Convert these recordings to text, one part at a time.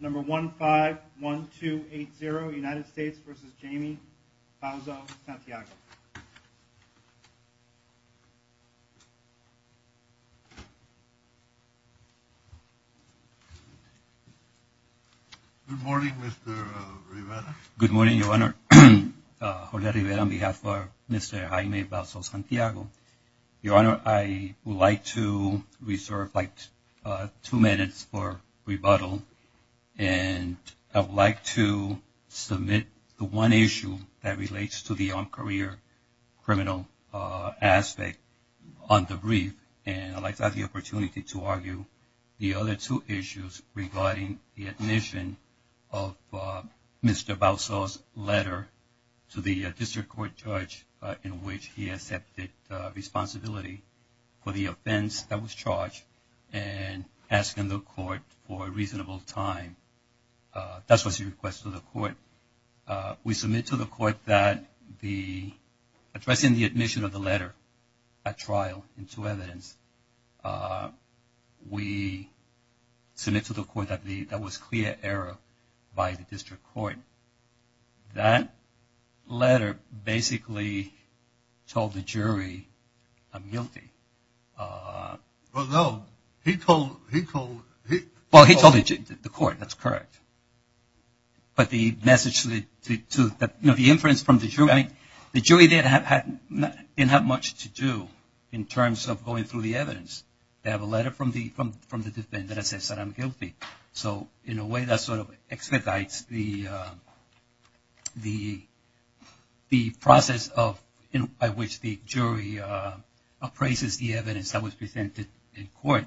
Number 151280, United States v. Jamie Bauzo-Santiago. Good morning, Mr. Rivera. Good morning, Your Honor. Jorge Rivera on behalf of Mr. Jaime Bauzo-Santiago. Your Honor, I would like to reserve like two minutes for rebuttal. And I would like to submit the one issue that relates to the armed career criminal aspect on the brief. And I'd like to have the opportunity to argue the other two issues regarding the admission of Mr. Bauzo's letter to the district court judge in which he accepted responsibility for the offense that was charged and asking the court for a reasonable time. That's what he requests of the court. We submit to the court that addressing the admission of the letter at trial into evidence, we submit to the court that was clear error by the district court. That letter basically told the jury a guilty. Well, no. He told the court. That's correct. But the message to the, you know, the inference from the jury, I mean, the jury didn't have much to do in terms of going through the evidence. They have a letter from the defendant that says that I'm guilty. So in a way that sort of expedites the process by which the jury appraises the evidence that was presented in court.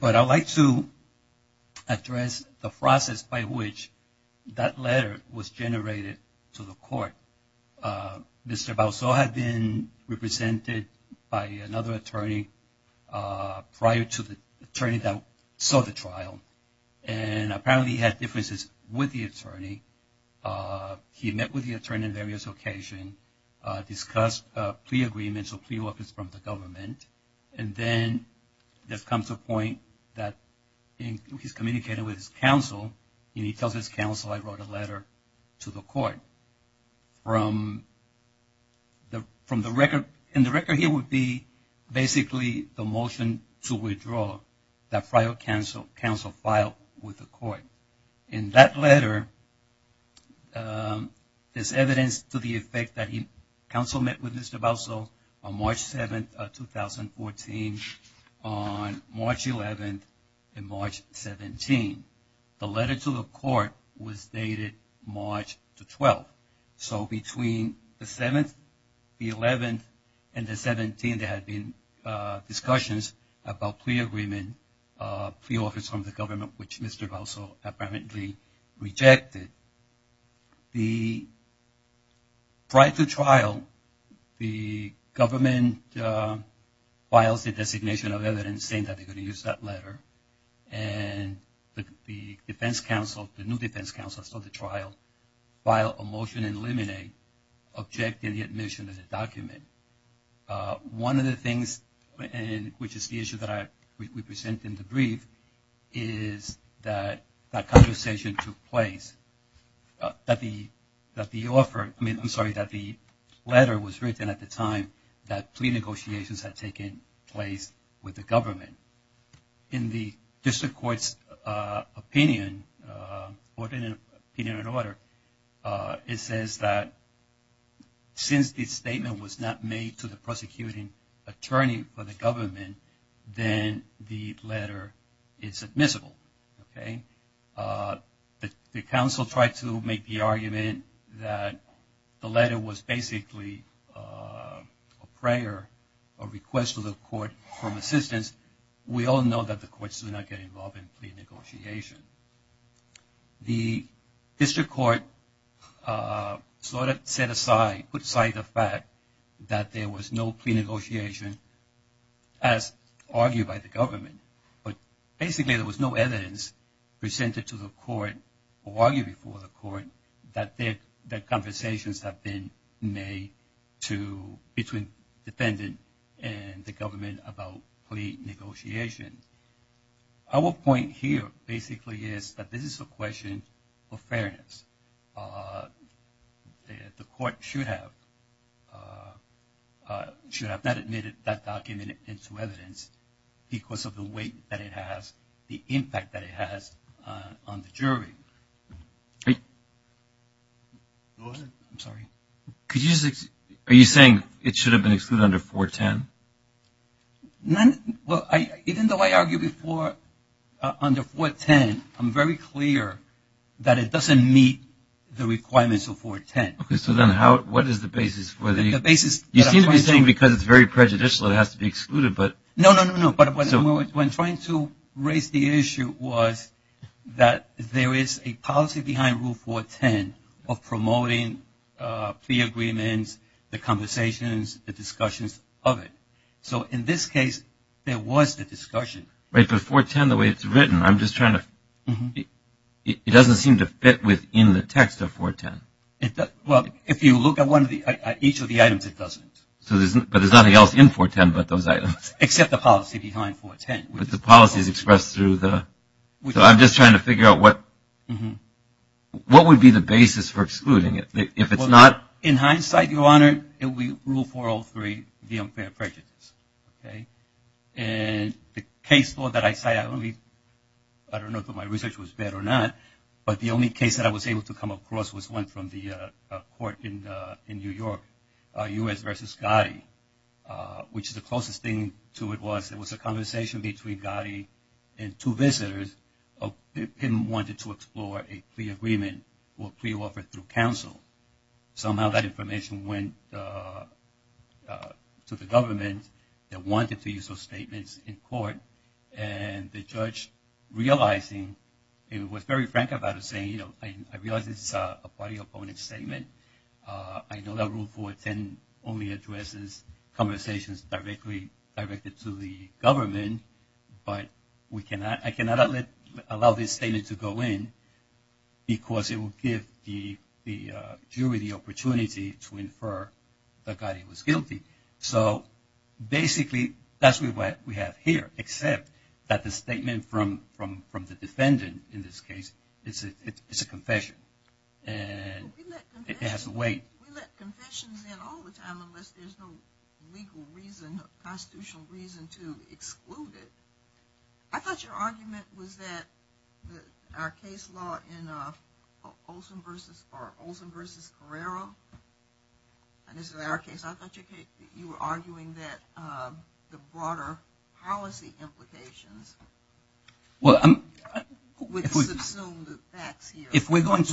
But I'd like to address the process by which that letter was generated to the court. Mr. Bauzo had been represented by another attorney prior to the attorney that saw the trial. And apparently he had differences with the attorney. He met with the attorney on various occasions, discussed plea agreements or plea weapons from the government. And then there comes a point that he's communicating with his counsel. And he tells his counsel, I wrote a letter to the court. From the record, and the record here would be basically the motion to withdraw that trial counsel filed with the court. In that letter, there's evidence to the effect that counsel met with Mr. Bauzo on March 7th, 2014, on March 11th and March 17th. The letter to the court was dated March the 12th. So between the 7th, the 11th, and the 17th, there had been discussions about plea agreement, plea offers from the government, which Mr. Bauzo apparently rejected. Prior to trial, the government files a designation of evidence saying that they're going to use that letter. And the defense counsel, the new defense counsel, saw the trial, filed a motion to eliminate, objecting the admission of the document. One of the things, which is the issue that we present in the brief, is that that conversation took place, that the letter was written at the time that plea negotiations had taken place with the government. In the district court's opinion, opinion and order, it says that since the statement was not made to the prosecuting attorney for the government, then the letter is admissible. The counsel tried to make the argument that the letter was basically a prayer, a request to the court for assistance. We all know that the courts do not get involved in plea negotiations. The district court sort of set aside, put aside the fact that there was no plea negotiation as argued by the government. But basically, there was no evidence presented to the court or argued before the court that conversations have been made between the defendant and the government about plea negotiations. Our point here basically is that this is a question of fairness. The court should have not admitted that document into evidence because of the weight that it has, the impact that it has on the jury. Go ahead. I'm sorry. Are you saying it should have been excluded under 410? Well, even though I argued before under 410, I'm very clear that it doesn't meet the requirements of 410. Okay. So then what is the basis for the- The basis- You seem to be saying because it's very prejudicial, it has to be excluded, but- No, no, no, no. What I'm trying to raise the issue was that there is a policy behind Rule 410 of promoting plea agreements, the conversations, the discussions of it. So in this case, there was the discussion. Right, but 410, the way it's written, I'm just trying to- It doesn't seem to fit within the text of 410. Well, if you look at each of the items, it doesn't. But there's nothing else in 410 but those items. Except the policy behind 410. But the policy is expressed through the- So I'm just trying to figure out what would be the basis for excluding it. If it's not- In hindsight, Your Honor, it would be Rule 403, the unfair prejudice. And the case law that I cited, I don't know if my research was bad or not, but the only case that I was able to come across was one from the court in New York, U.S. v. Gotti, which the closest thing to it was it was a conversation between Gotti and two visitors. Pim wanted to explore a plea agreement or plea offer through counsel. Somehow that information went to the government that wanted to use those statements in court. And the judge, realizing, was very frank about it, saying, you know, I realize this is a party-opponent statement. I know that Rule 410 only addresses conversations directly directed to the government, but I cannot allow this statement to go in because it would give the jury the opportunity to infer that Gotti was guilty. So basically that's what we have here, except that the statement from the defendant in this case is a confession. We let confessions in all the time unless there's no legal reason or constitutional reason to exclude it. I thought your argument was that our case law in Olson v. Herrera, and this is our case, I thought you were arguing that the broader policy implications would subsume the facts here. If we're going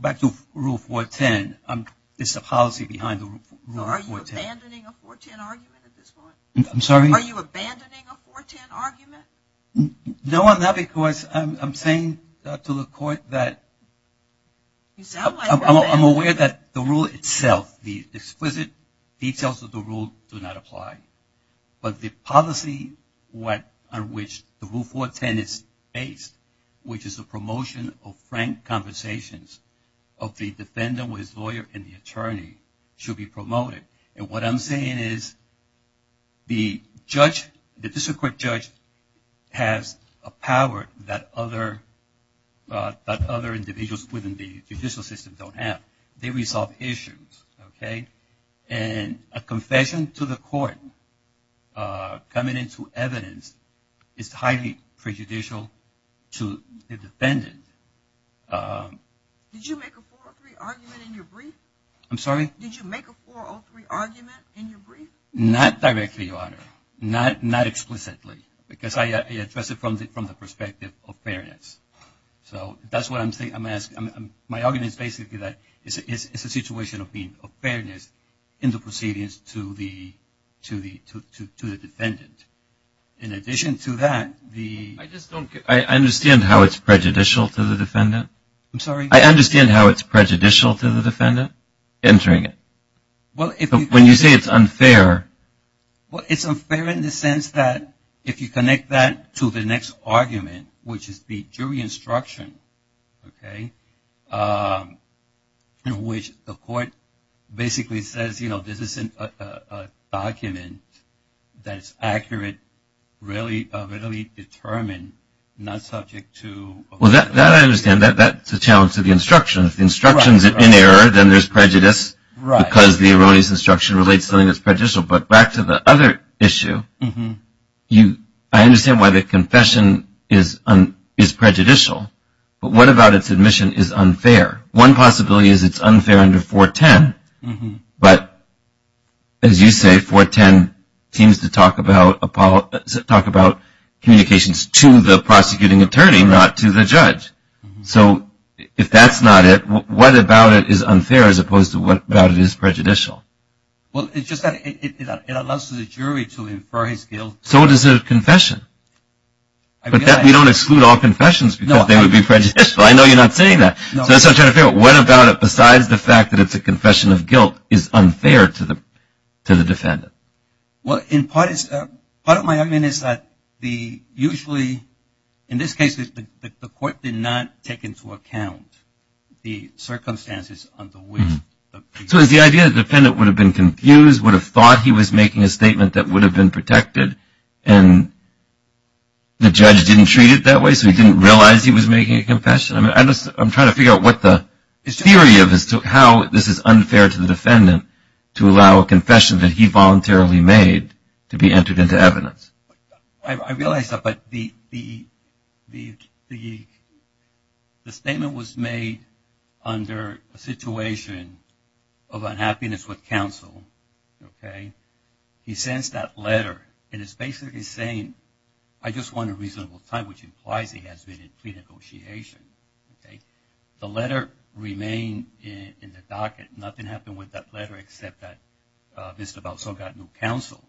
back to Rule 410, it's the policy behind the Rule 410. Are you abandoning a 410 argument at this point? I'm sorry? Are you abandoning a 410 argument? No, I'm not, because I'm saying to the court that I'm aware that the rule itself, the explicit details of the rule do not apply. But the policy on which the Rule 410 is based, which is the promotion of frank conversations of the defendant with his lawyer and the attorney, should be promoted. And what I'm saying is the district court judge has a power that other individuals within the judicial system don't have. They resolve issues. And a confession to the court coming into evidence is highly prejudicial to the defendant. Did you make a 403 argument in your brief? I'm sorry? Did you make a 403 argument in your brief? Not directly, Your Honor. Not explicitly, because I addressed it from the perspective of fairness. So, that's what I'm saying. My argument is basically that it's a situation of fairness in the proceedings to the defendant. In addition to that, the... I just don't get it. I understand how it's prejudicial to the defendant. I'm sorry? I understand how it's prejudicial to the defendant entering it. But when you say it's unfair... Well, it's unfair in the sense that if you connect that to the next argument, which is the jury instruction, okay, in which the court basically says, you know, this is a document that is accurate, readily determined, not subject to... Well, that I understand. That's a challenge to the instruction. If the instruction's in error, then there's prejudice because the erroneous instruction relates to something that's prejudicial. But back to the other issue, I understand why the confession is prejudicial. But what about its admission is unfair? One possibility is it's unfair under 410. But, as you say, 410 seems to talk about communications to the prosecuting attorney, not to the judge. So, if that's not it, what about it is unfair as opposed to what about it is prejudicial? Well, it's just that it allows the jury to infer his guilt. So, it is a confession. But we don't exclude all confessions because they would be prejudicial. I know you're not saying that. No. So, what about it besides the fact that it's a confession of guilt is unfair to the defendant? Well, part of my argument is that usually, in this case, the court did not take into account the circumstances under which... So, is the idea that the defendant would have been confused, would have thought he was making a statement that would have been protected, and the judge didn't treat it that way, so he didn't realize he was making a confession? I'm trying to figure out what the theory of how this is unfair to the defendant to allow a confession that he voluntarily made to be entered into evidence. I realize that, but the statement was made under a situation of unhappiness with counsel. He sends that letter, and it's basically saying, I just want a reasonable time, which implies he has been in plea negotiation. The letter remained in the docket. Nothing happened with that letter except that Mr. Balsall got new counsel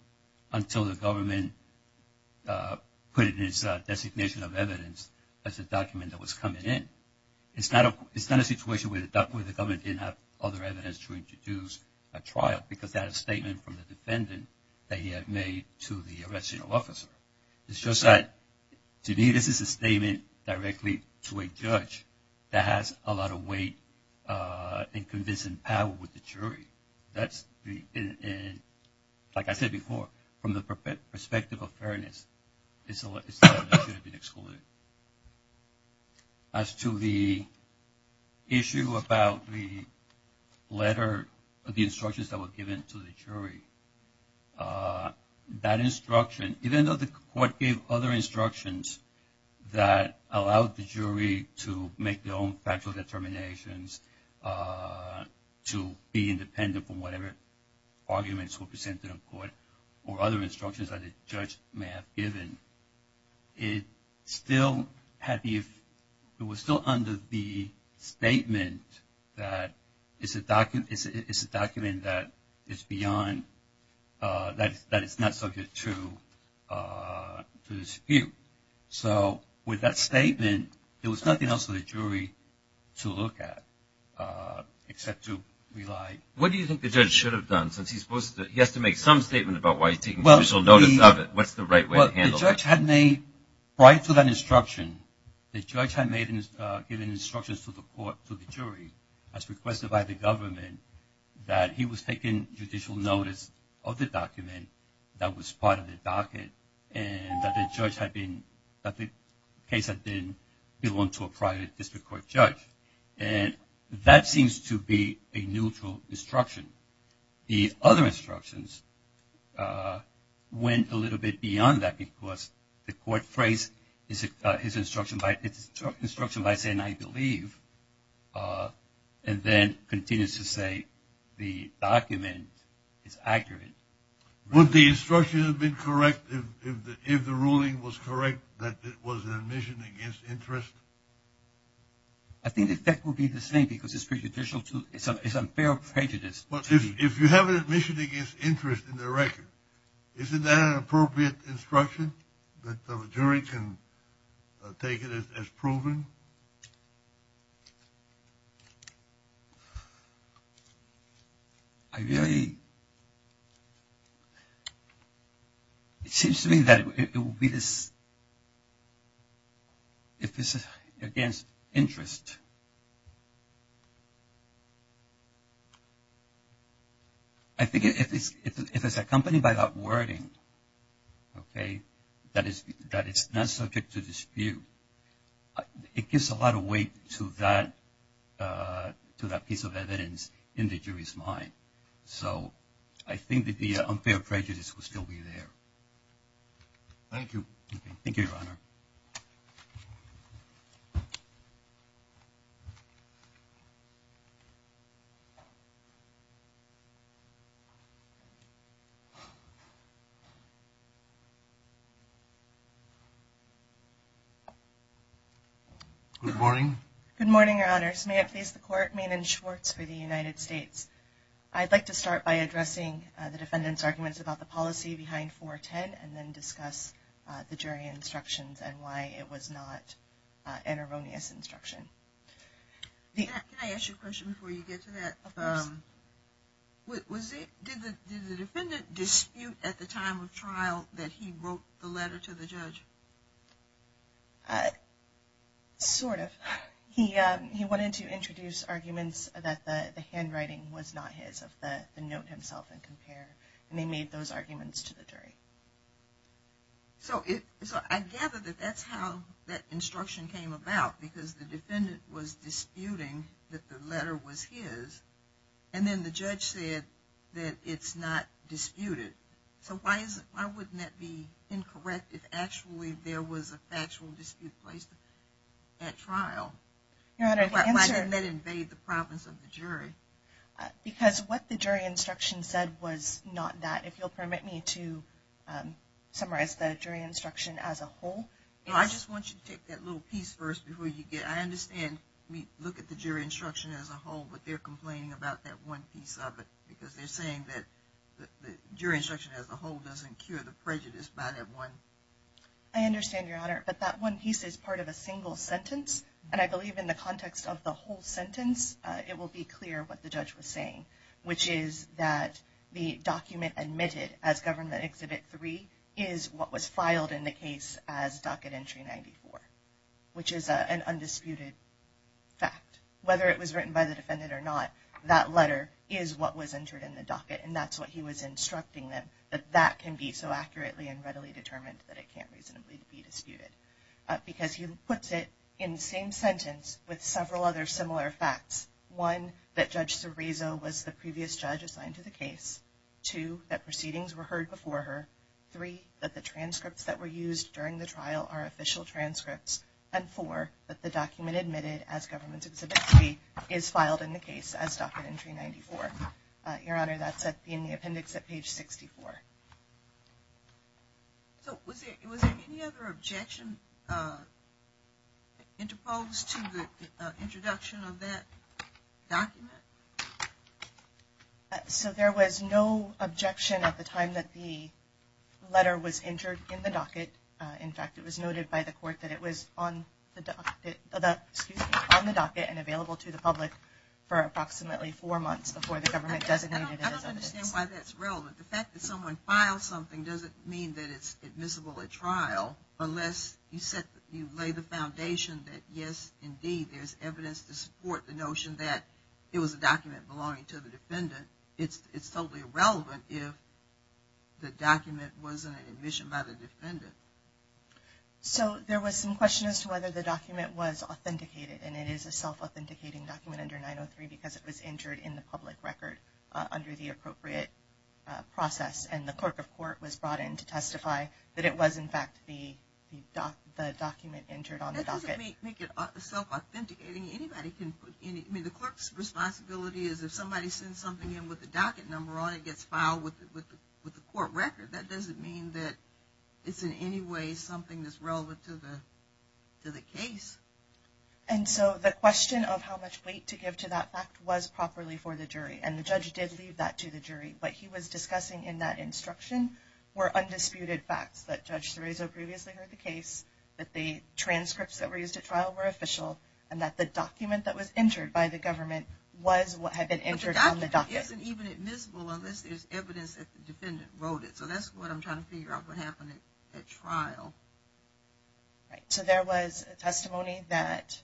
until the government put it in his designation of evidence as a document that was coming in. It's not a situation where the government didn't have other evidence to introduce a trial because that is a statement from the defendant that he had made to the arresting officer. It's just that, to me, this is a statement directly to a judge that has a lot of weight in convincing power with the jury. Like I said before, from the perspective of fairness, this letter should have been excluded. As to the issue about the instructions that were given to the jury, that instruction, even though the court gave other instructions that allowed the jury to make their own factual determinations, to be independent from whatever arguments were presented in court or other instructions that a judge may have given, it was still under the statement that it's a document that is beyond, that it's not subject to dispute. So with that statement, there was nothing else for the jury to look at except to rely. What do you think the judge should have done since he has to make some statement about why he's taking judicial notice of it? What's the right way to handle it? Well, the judge had made, prior to that instruction, the judge had given instructions to the court, to the jury, as requested by the government, that he was taking judicial notice of the document that was part of the docket and that the case had been given to a private district court judge. And that seems to be a neutral instruction. The other instructions went a little bit beyond that because the court phrased his instruction by saying, I believe, and then continues to say the document is accurate. Would the instruction have been correct if the ruling was correct that it was an admission against interest? I think the effect would be the same because it's unfair prejudice. If you have an admission against interest in the record, isn't that an appropriate instruction that the jury can take it as proven? I don't know. I really, it seems to me that it would be this, if it's against interest. I think if it's accompanied by that wording, okay, that it's not subject to dispute, it gives a lot of weight to that piece of evidence in the jury's mind. So I think that the unfair prejudice would still be there. Thank you. Thank you, Your Honor. Thank you, Your Honor. Good morning. Good morning, Your Honors. May it please the Court, Maiden Schwartz for the United States. I'd like to start by addressing the defendant's arguments about the policy behind 410 and then discuss the jury instructions and why it was not an erroneous instruction. Can I ask you a question before you get to that? Of course. Did the defendant dispute at the time of trial that he wrote the letter to the judge? Sort of. He wanted to introduce arguments that the handwriting was not his of the note himself and compare. And they made those arguments to the jury. So I gather that that's how that instruction came about because the defendant was disputing that the letter was his and then the judge said that it's not disputed. So why wouldn't that be incorrect if actually there was a factual dispute placed at trial? Because what the jury instruction said was not that. If you'll permit me to summarize the jury instruction as a whole. I just want you to take that little piece first before you get. I understand we look at the jury instruction as a whole, but they're complaining about that one piece of it because they're saying that the jury instruction as a whole doesn't cure the prejudice by that one. I understand, Your Honor, but that one piece is part of a single sentence. And I believe in the context of the whole sentence, it will be clear what the judge was saying, which is that the document admitted as Government Exhibit 3 is what was filed in the case as Docket Entry 94, which is an undisputed fact. Whether it was written by the defendant or not, that letter is what was entered in the docket, and that's what he was instructing them, that that can be so accurately and readily determined that it can't reasonably be disputed. Because he puts it in the same sentence with several other similar facts. One, that Judge Cerezo was the previous judge assigned to the case. Two, that proceedings were heard before her. Three, that the transcripts that were used during the trial are official transcripts. And four, that the document admitted as Government Exhibit 3 is filed in the case as Docket Entry 94. Your Honor, that's in the appendix at page 64. So was there any other objection interposed to the introduction of that document? So there was no objection at the time that the letter was entered in the docket. In fact, it was noted by the court that it was on the docket and available to the public for approximately four months before the government designated it. I don't understand why that's relevant. The fact that someone files something doesn't mean that it's admissible at trial, unless you lay the foundation that yes, indeed, there's evidence to support the notion that it was a document belonging to the defendant. It's totally irrelevant if the document wasn't an admission by the defendant. So there was some question as to whether the document was authenticated, and it is a self-authenticating document under 903 because it was entered in the public record under the appropriate process. And the clerk of court was brought in to testify that it was, in fact, the document entered on the docket. That doesn't make it self-authenticating. The clerk's responsibility is if somebody sends something in with the docket number on it gets filed with the court record. That doesn't mean that it's in any way something that's relevant to the case. And so the question of how much weight to give to that fact was properly for the jury. And the judge did leave that to the jury. What he was discussing in that instruction were undisputed facts that Judge Cerezo previously heard the case, that the transcripts that were used at trial were official, and that the document that was entered by the government was what had been entered on the docket. But the document isn't even admissible unless there's evidence that the defendant wrote it. So that's what I'm trying to figure out what happened at trial. So there was testimony that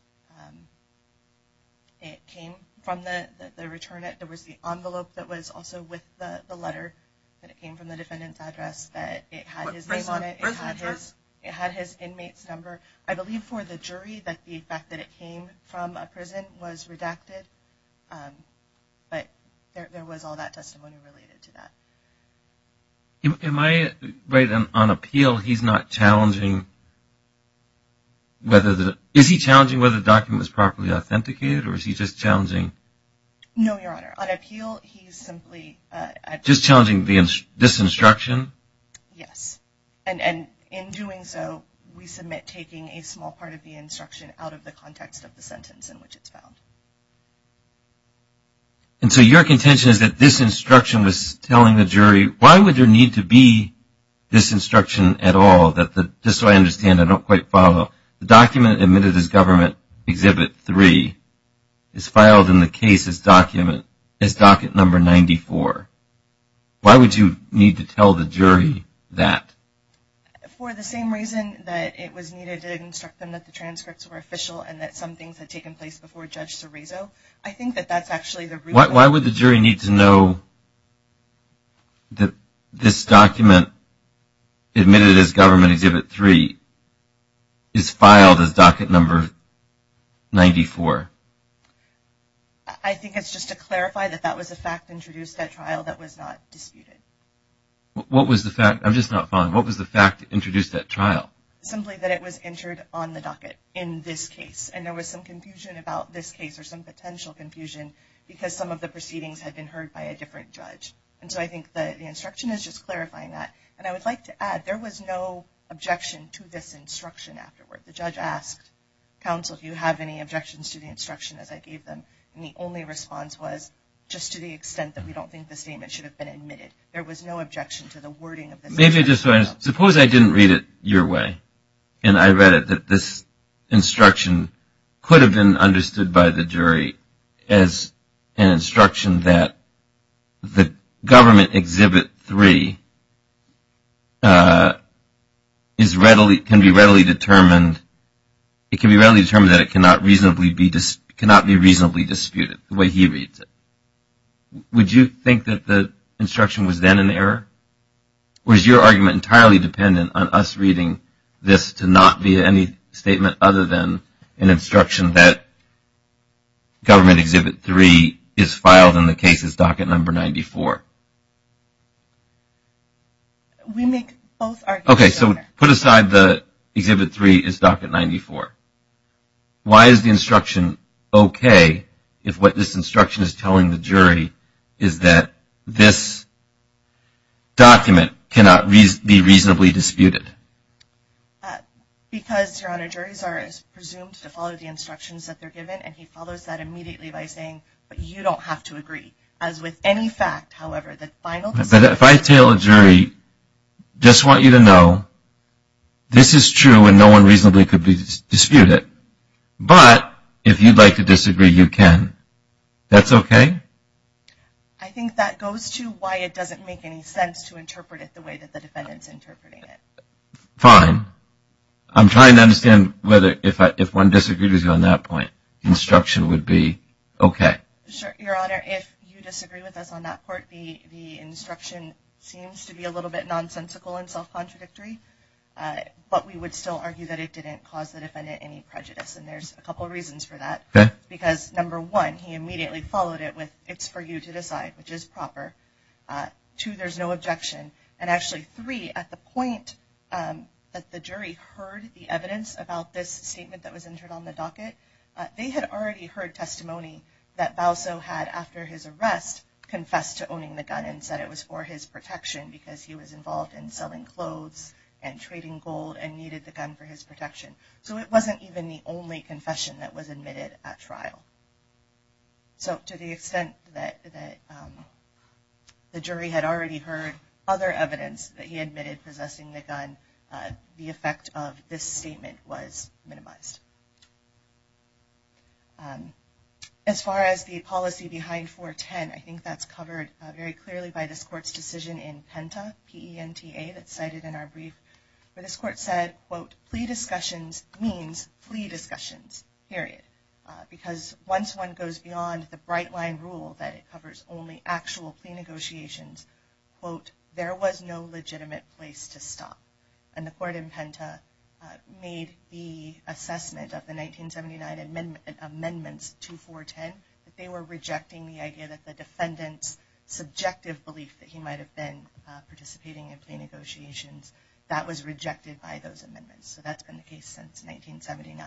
it came from the returnant. There was the envelope that was also with the letter that it came from the defendant's address that it had his name on it. It had his inmate's number. I believe for the jury that the fact that it came from a prison was redacted. But there was all that testimony related to that. Am I right on appeal? He's not challenging whether the – is he challenging whether the document was properly authenticated or is he just challenging? No, Your Honor. On appeal, he's simply – Just challenging this instruction? Yes. And in doing so, we submit taking a small part of the instruction out of the context of the sentence in which it's found. And so your contention is that this instruction was telling the jury, why would there need to be this instruction at all that the – just so I understand, I don't quite follow. The document admitted as Government Exhibit 3 is filed in the case as docket number 94. Why would you need to tell the jury that? For the same reason that it was needed to instruct them that the transcripts were official and that some things had taken place before Judge Cerezo. I think that that's actually the – Why would the jury need to know that this document admitted as Government Exhibit 3 is filed as docket number 94? I think it's just to clarify that that was a fact introduced at trial that was not disputed. What was the fact – I'm just not following. What was the fact introduced at trial? Simply that it was entered on the docket in this case. And there was some confusion about this case or some potential confusion because some of the proceedings had been heard by a different judge. And so I think the instruction is just clarifying that. And I would like to add, there was no objection to this instruction afterward. The judge asked counsel, do you have any objections to the instruction as I gave them? And the only response was, just to the extent that we don't think the statement should have been admitted. There was no objection to the wording of this document. Maybe I just – suppose I didn't read it your way and I read it that this instruction could have been understood by the jury as an instruction that the Government Exhibit 3 is readily – can be readily determined – it can be readily determined that it cannot reasonably be – cannot be reasonably disputed the way he reads it. Would you think that the instruction was then an error? Or is your argument entirely dependent on us reading this to not be any statement other than an instruction that Government Exhibit 3 is filed in the case's docket number 94? We make both arguments. Okay, so put aside the Exhibit 3 is docket 94. Why is the instruction okay if what this instruction is telling the jury is that this document cannot be reasonably disputed? Because, Your Honor, juries are presumed to follow the instructions that they're given and he follows that immediately by saying, but you don't have to agree. As with any fact, however, the final – If I tell a jury, just want you to know, this is true and no one reasonably could dispute it. But if you'd like to disagree, you can. That's okay? I think that goes to why it doesn't make any sense to interpret it the way that the defendant's interpreting it. Fine. I'm trying to understand whether if one disagreed with you on that point, instruction would be okay. Your Honor, if you disagree with us on that point, the instruction seems to be a little bit nonsensical and self-contradictory, but we would still argue that it didn't cause the defendant any prejudice. And there's a couple reasons for that. Because, number one, he immediately followed it with, it's for you to decide, which is proper. Two, there's no objection. And actually, three, at the point that the jury heard the evidence about this statement that was entered on the docket, they had already heard testimony that Bauso had, after his arrest, confessed to owning the gun and said it was for his protection because he was involved in selling clothes and trading gold and needed the gun for his protection. So it wasn't even the only confession that was admitted at trial. So to the extent that the jury had already heard other evidence that he admitted possessing the gun, the effect of this statement was minimized. As far as the policy behind 410, I think that's covered very clearly by this Court's decision in PENTA, P-E-N-T-A, that's cited in our brief, where this Court said, quote, plea discussions means plea discussions, period. Because once one goes beyond the bright-line rule that it covers only actual plea negotiations, quote, there was no legitimate place to stop. And the Court in PENTA made the assessment of the 1979 amendments to 410 that they were rejecting the idea that the defendant's subjective belief that he might have been participating in plea negotiations, that was rejected by those amendments. So that's been the case since 1979.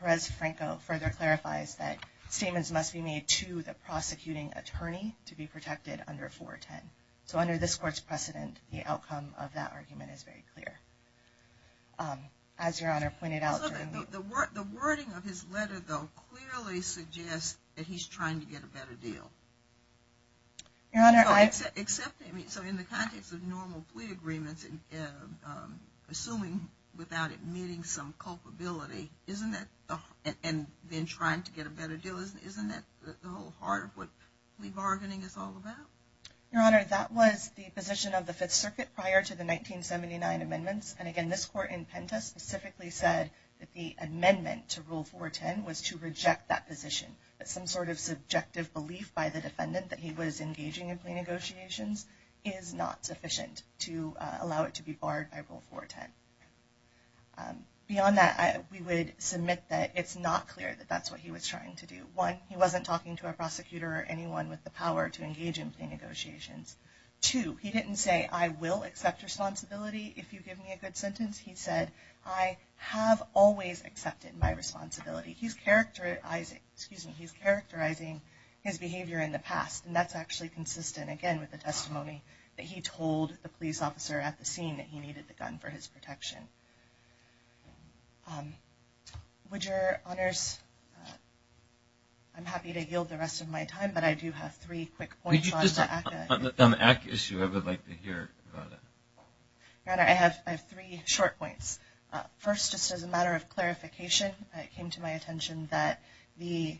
Perez-Franco further clarifies that statements must be made to the prosecuting attorney to be protected under 410. So under this Court's precedent, the outcome of that argument is very clear. As Your Honor pointed out during the... The wording of his letter, though, clearly suggests that he's trying to get a better deal. Your Honor, I... So in the context of normal plea agreements, assuming without admitting some culpability, and then trying to get a better deal, isn't that the whole heart of what plea bargaining is all about? Your Honor, that was the position of the Fifth Circuit prior to the 1979 amendments. And again, this Court in PENTA specifically said that the amendment to Rule 410 was to reject that position. That some sort of subjective belief by the defendant that he was engaging in plea negotiations is not sufficient to allow it to be barred by Rule 410. Beyond that, we would submit that it's not clear that that's what he was trying to do. One, he wasn't talking to a prosecutor or anyone with the power to engage in plea negotiations. Two, he didn't say, I will accept responsibility if you give me a good sentence. He said, I have always accepted my responsibility. He's characterizing his behavior in the past. And that's actually consistent, again, with the testimony that he told the police officer at the scene that he needed the gun for his protection. Your Honors, I'm happy to yield the rest of my time, but I do have three quick points on the ACCA. On the ACCA issue, I would like to hear about it. Your Honor, I have three short points. First, just as a matter of clarification, it came to my attention that the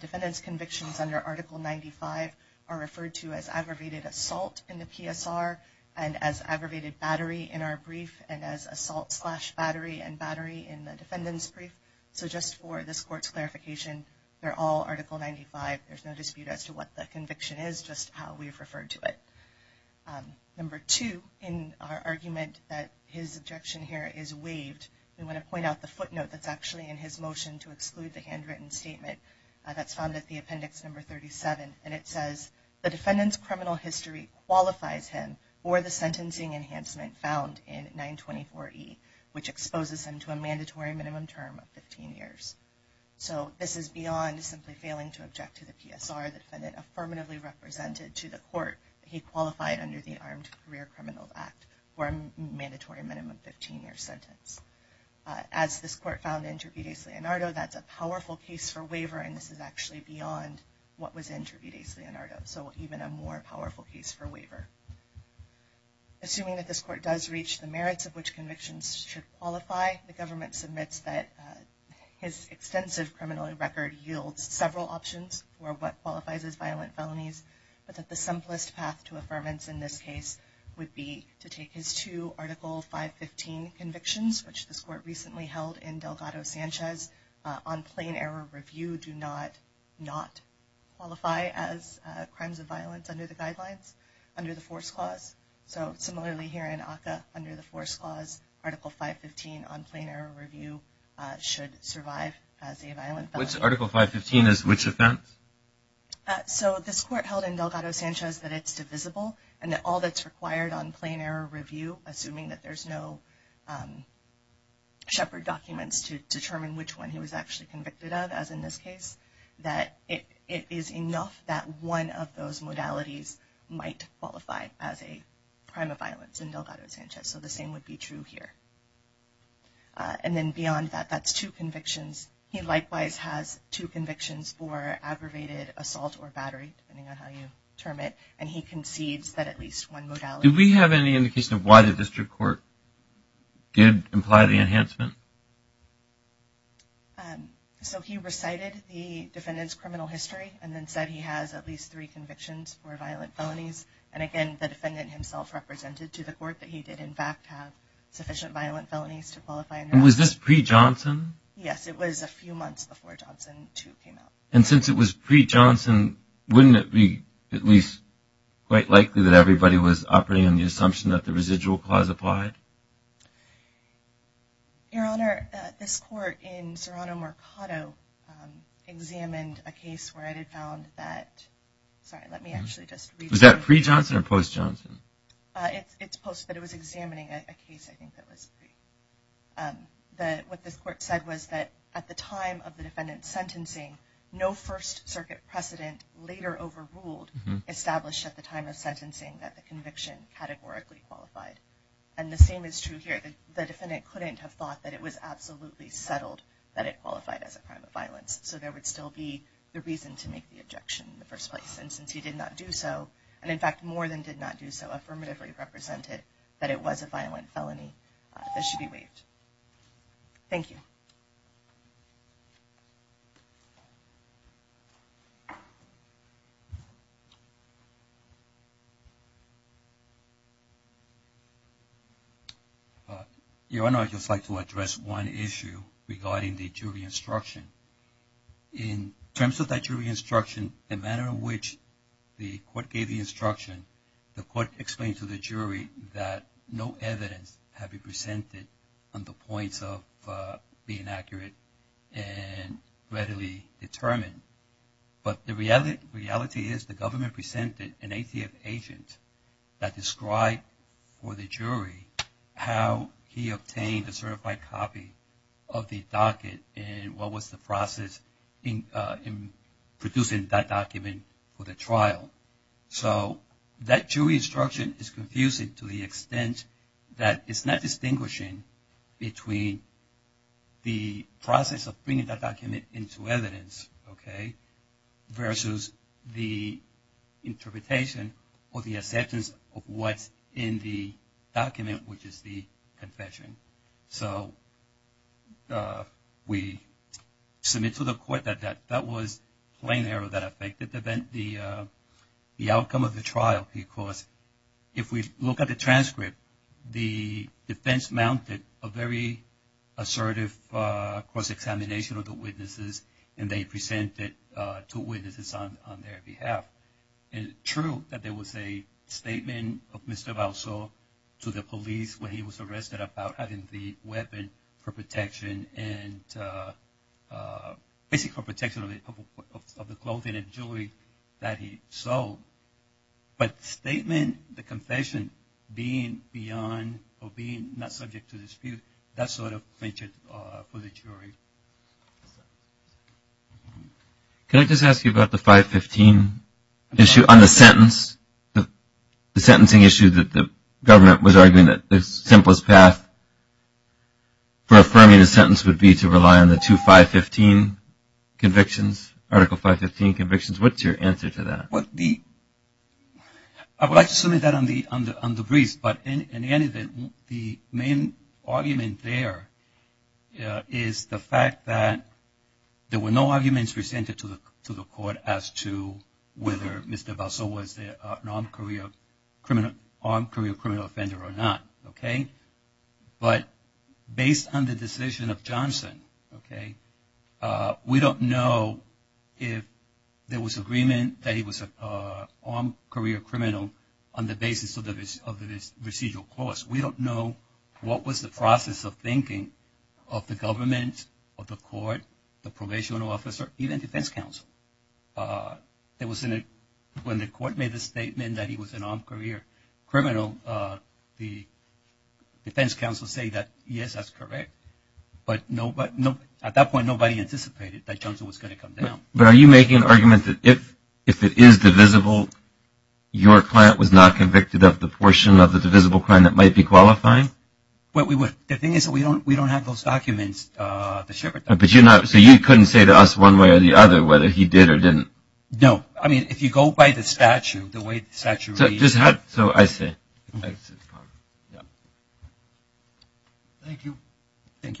defendant's convictions under Article 95 are referred to as aggravated assault in the PSR and as aggravated battery in our brief and as assault slash battery and battery in the defendant's brief. So just for this Court's clarification, they're all Article 95. There's no dispute as to what the conviction is, just how we've referred to it. Number two, in our argument that his objection here is waived, we want to point out the footnote that's actually in his motion to exclude the handwritten statement that's found at the appendix number 37. And it says, the defendant's criminal history qualifies him for the sentencing enhancement found in 924E, which exposes him to a mandatory minimum term of 15 years. So this is beyond simply failing to object to the PSR. The defendant affirmatively represented to the Court that he qualified under the Armed Career Criminals Act for a mandatory minimum 15-year sentence. As this Court found in Trivides-Leonardo, that's a powerful case for waiver, and this is actually beyond what was in Trivides-Leonardo, so even a more powerful case for waiver. Assuming that this Court does reach the merits of which convictions should qualify, the government submits that his extensive criminal record yields several options for what qualifies as violent felonies, but that the simplest path to affirmance in this case would be to take his two Article 515 convictions, which this Court recently held in Delgado-Sanchez, on plain error review, do not qualify as crimes of violence under the guidelines, under the Force Clause. So similarly here in ACCA, under the Force Clause, Article 515 on plain error review should survive as a violent felony. So Article 515 is which offense? So this Court held in Delgado-Sanchez that it's divisible, and that all that's required on plain error review, assuming that there's no shepherd documents to determine which one he was actually convicted of, as in this case, that it is enough that one of those modalities might qualify as a crime of violence in Delgado-Sanchez, so the same would be true here. And then beyond that, that's two convictions. He likewise has two convictions for aggravated assault or battery, depending on how you term it, and he concedes that at least one modality. Did we have any indication of why the District Court did imply the enhancement? So he recited the defendant's criminal history and then said he has at least three convictions for violent felonies, and again, the defendant himself represented to the Court that he did in fact have sufficient violent felonies to qualify. And was this pre-Johnson? Yes, it was a few months before Johnson 2 came out. And since it was pre-Johnson, wouldn't it be at least quite likely that everybody was operating on the assumption that the residual clause applied? Your Honor, this Court in Serrano-Mercado examined a case where it had found that at the time of the defendant's sentencing, no First Circuit precedent later overruled established at the time of sentencing that the conviction categorically qualified. And the same is true here. The defendant couldn't have thought that it was absolutely settled that it qualified as a crime of violence. So there would still be the reason to make the objection in the first place. And since he did not do so, and in fact more than did not do so, affirmatively represented that it was a violent felony, this should be waived. Thank you. Your Honor, I'd just like to address one issue regarding the jury instruction. In terms of that jury instruction, the manner in which the Court gave the instruction, the Court explained to the jury that no evidence had been presented on the points of being accurate and readily determined. But the reality is the government presented an ATF agent that described for the jury how he obtained a certified copy of the docket and what was the process in producing that document for the trial. So that jury instruction is confusing to the extent that it's not distinguishing between the process of bringing that document into evidence versus the interpretation or the acceptance of what's in the document, which is the confession. So we submit to the Court that that was plain error that affected the outcome of the trial because if we look at the transcript, the defense mounted a very assertive cross-examination of the witnesses and they presented two witnesses on their behalf. And it's true that there was a statement of Mr. Balsall to the police when he was arrested about having the weapon for protection and basically for protection of the clothing and jewelry that he sold. But the statement, the confession, being beyond or being not subject to dispute, that sort of featured for the jury. Can I just ask you about the 515 issue on the sentence, the sentencing issue that the government was arguing that the simplest path for affirming a sentence would be to rely on the two 515 convictions, Article 515 convictions, what's your answer to that? I would like to submit that on the briefs, but in any event, the main argument there is the fact that there were no arguments presented to the Court as to whether Mr. Balsall was an armed career criminal offender or not. But based on the decision of Johnson, we don't know if there was agreement that he was an armed career criminal on the basis of the procedural course. We don't know what was the process of thinking of the government, of the Court, the probation officer, even defense counsel. When the Court made the statement that he was an armed career criminal, the defense counsel say that, yes, that's correct. But at that point, nobody anticipated that Johnson was going to come down. But are you making an argument that if it is divisible, your client was not convicted of the portion of the divisible crime that might be qualifying? The thing is that we don't have those documents. So you couldn't say to us one way or the other whether he did or didn't? No. I mean, if you go by the statute, the way the statute... Thank you.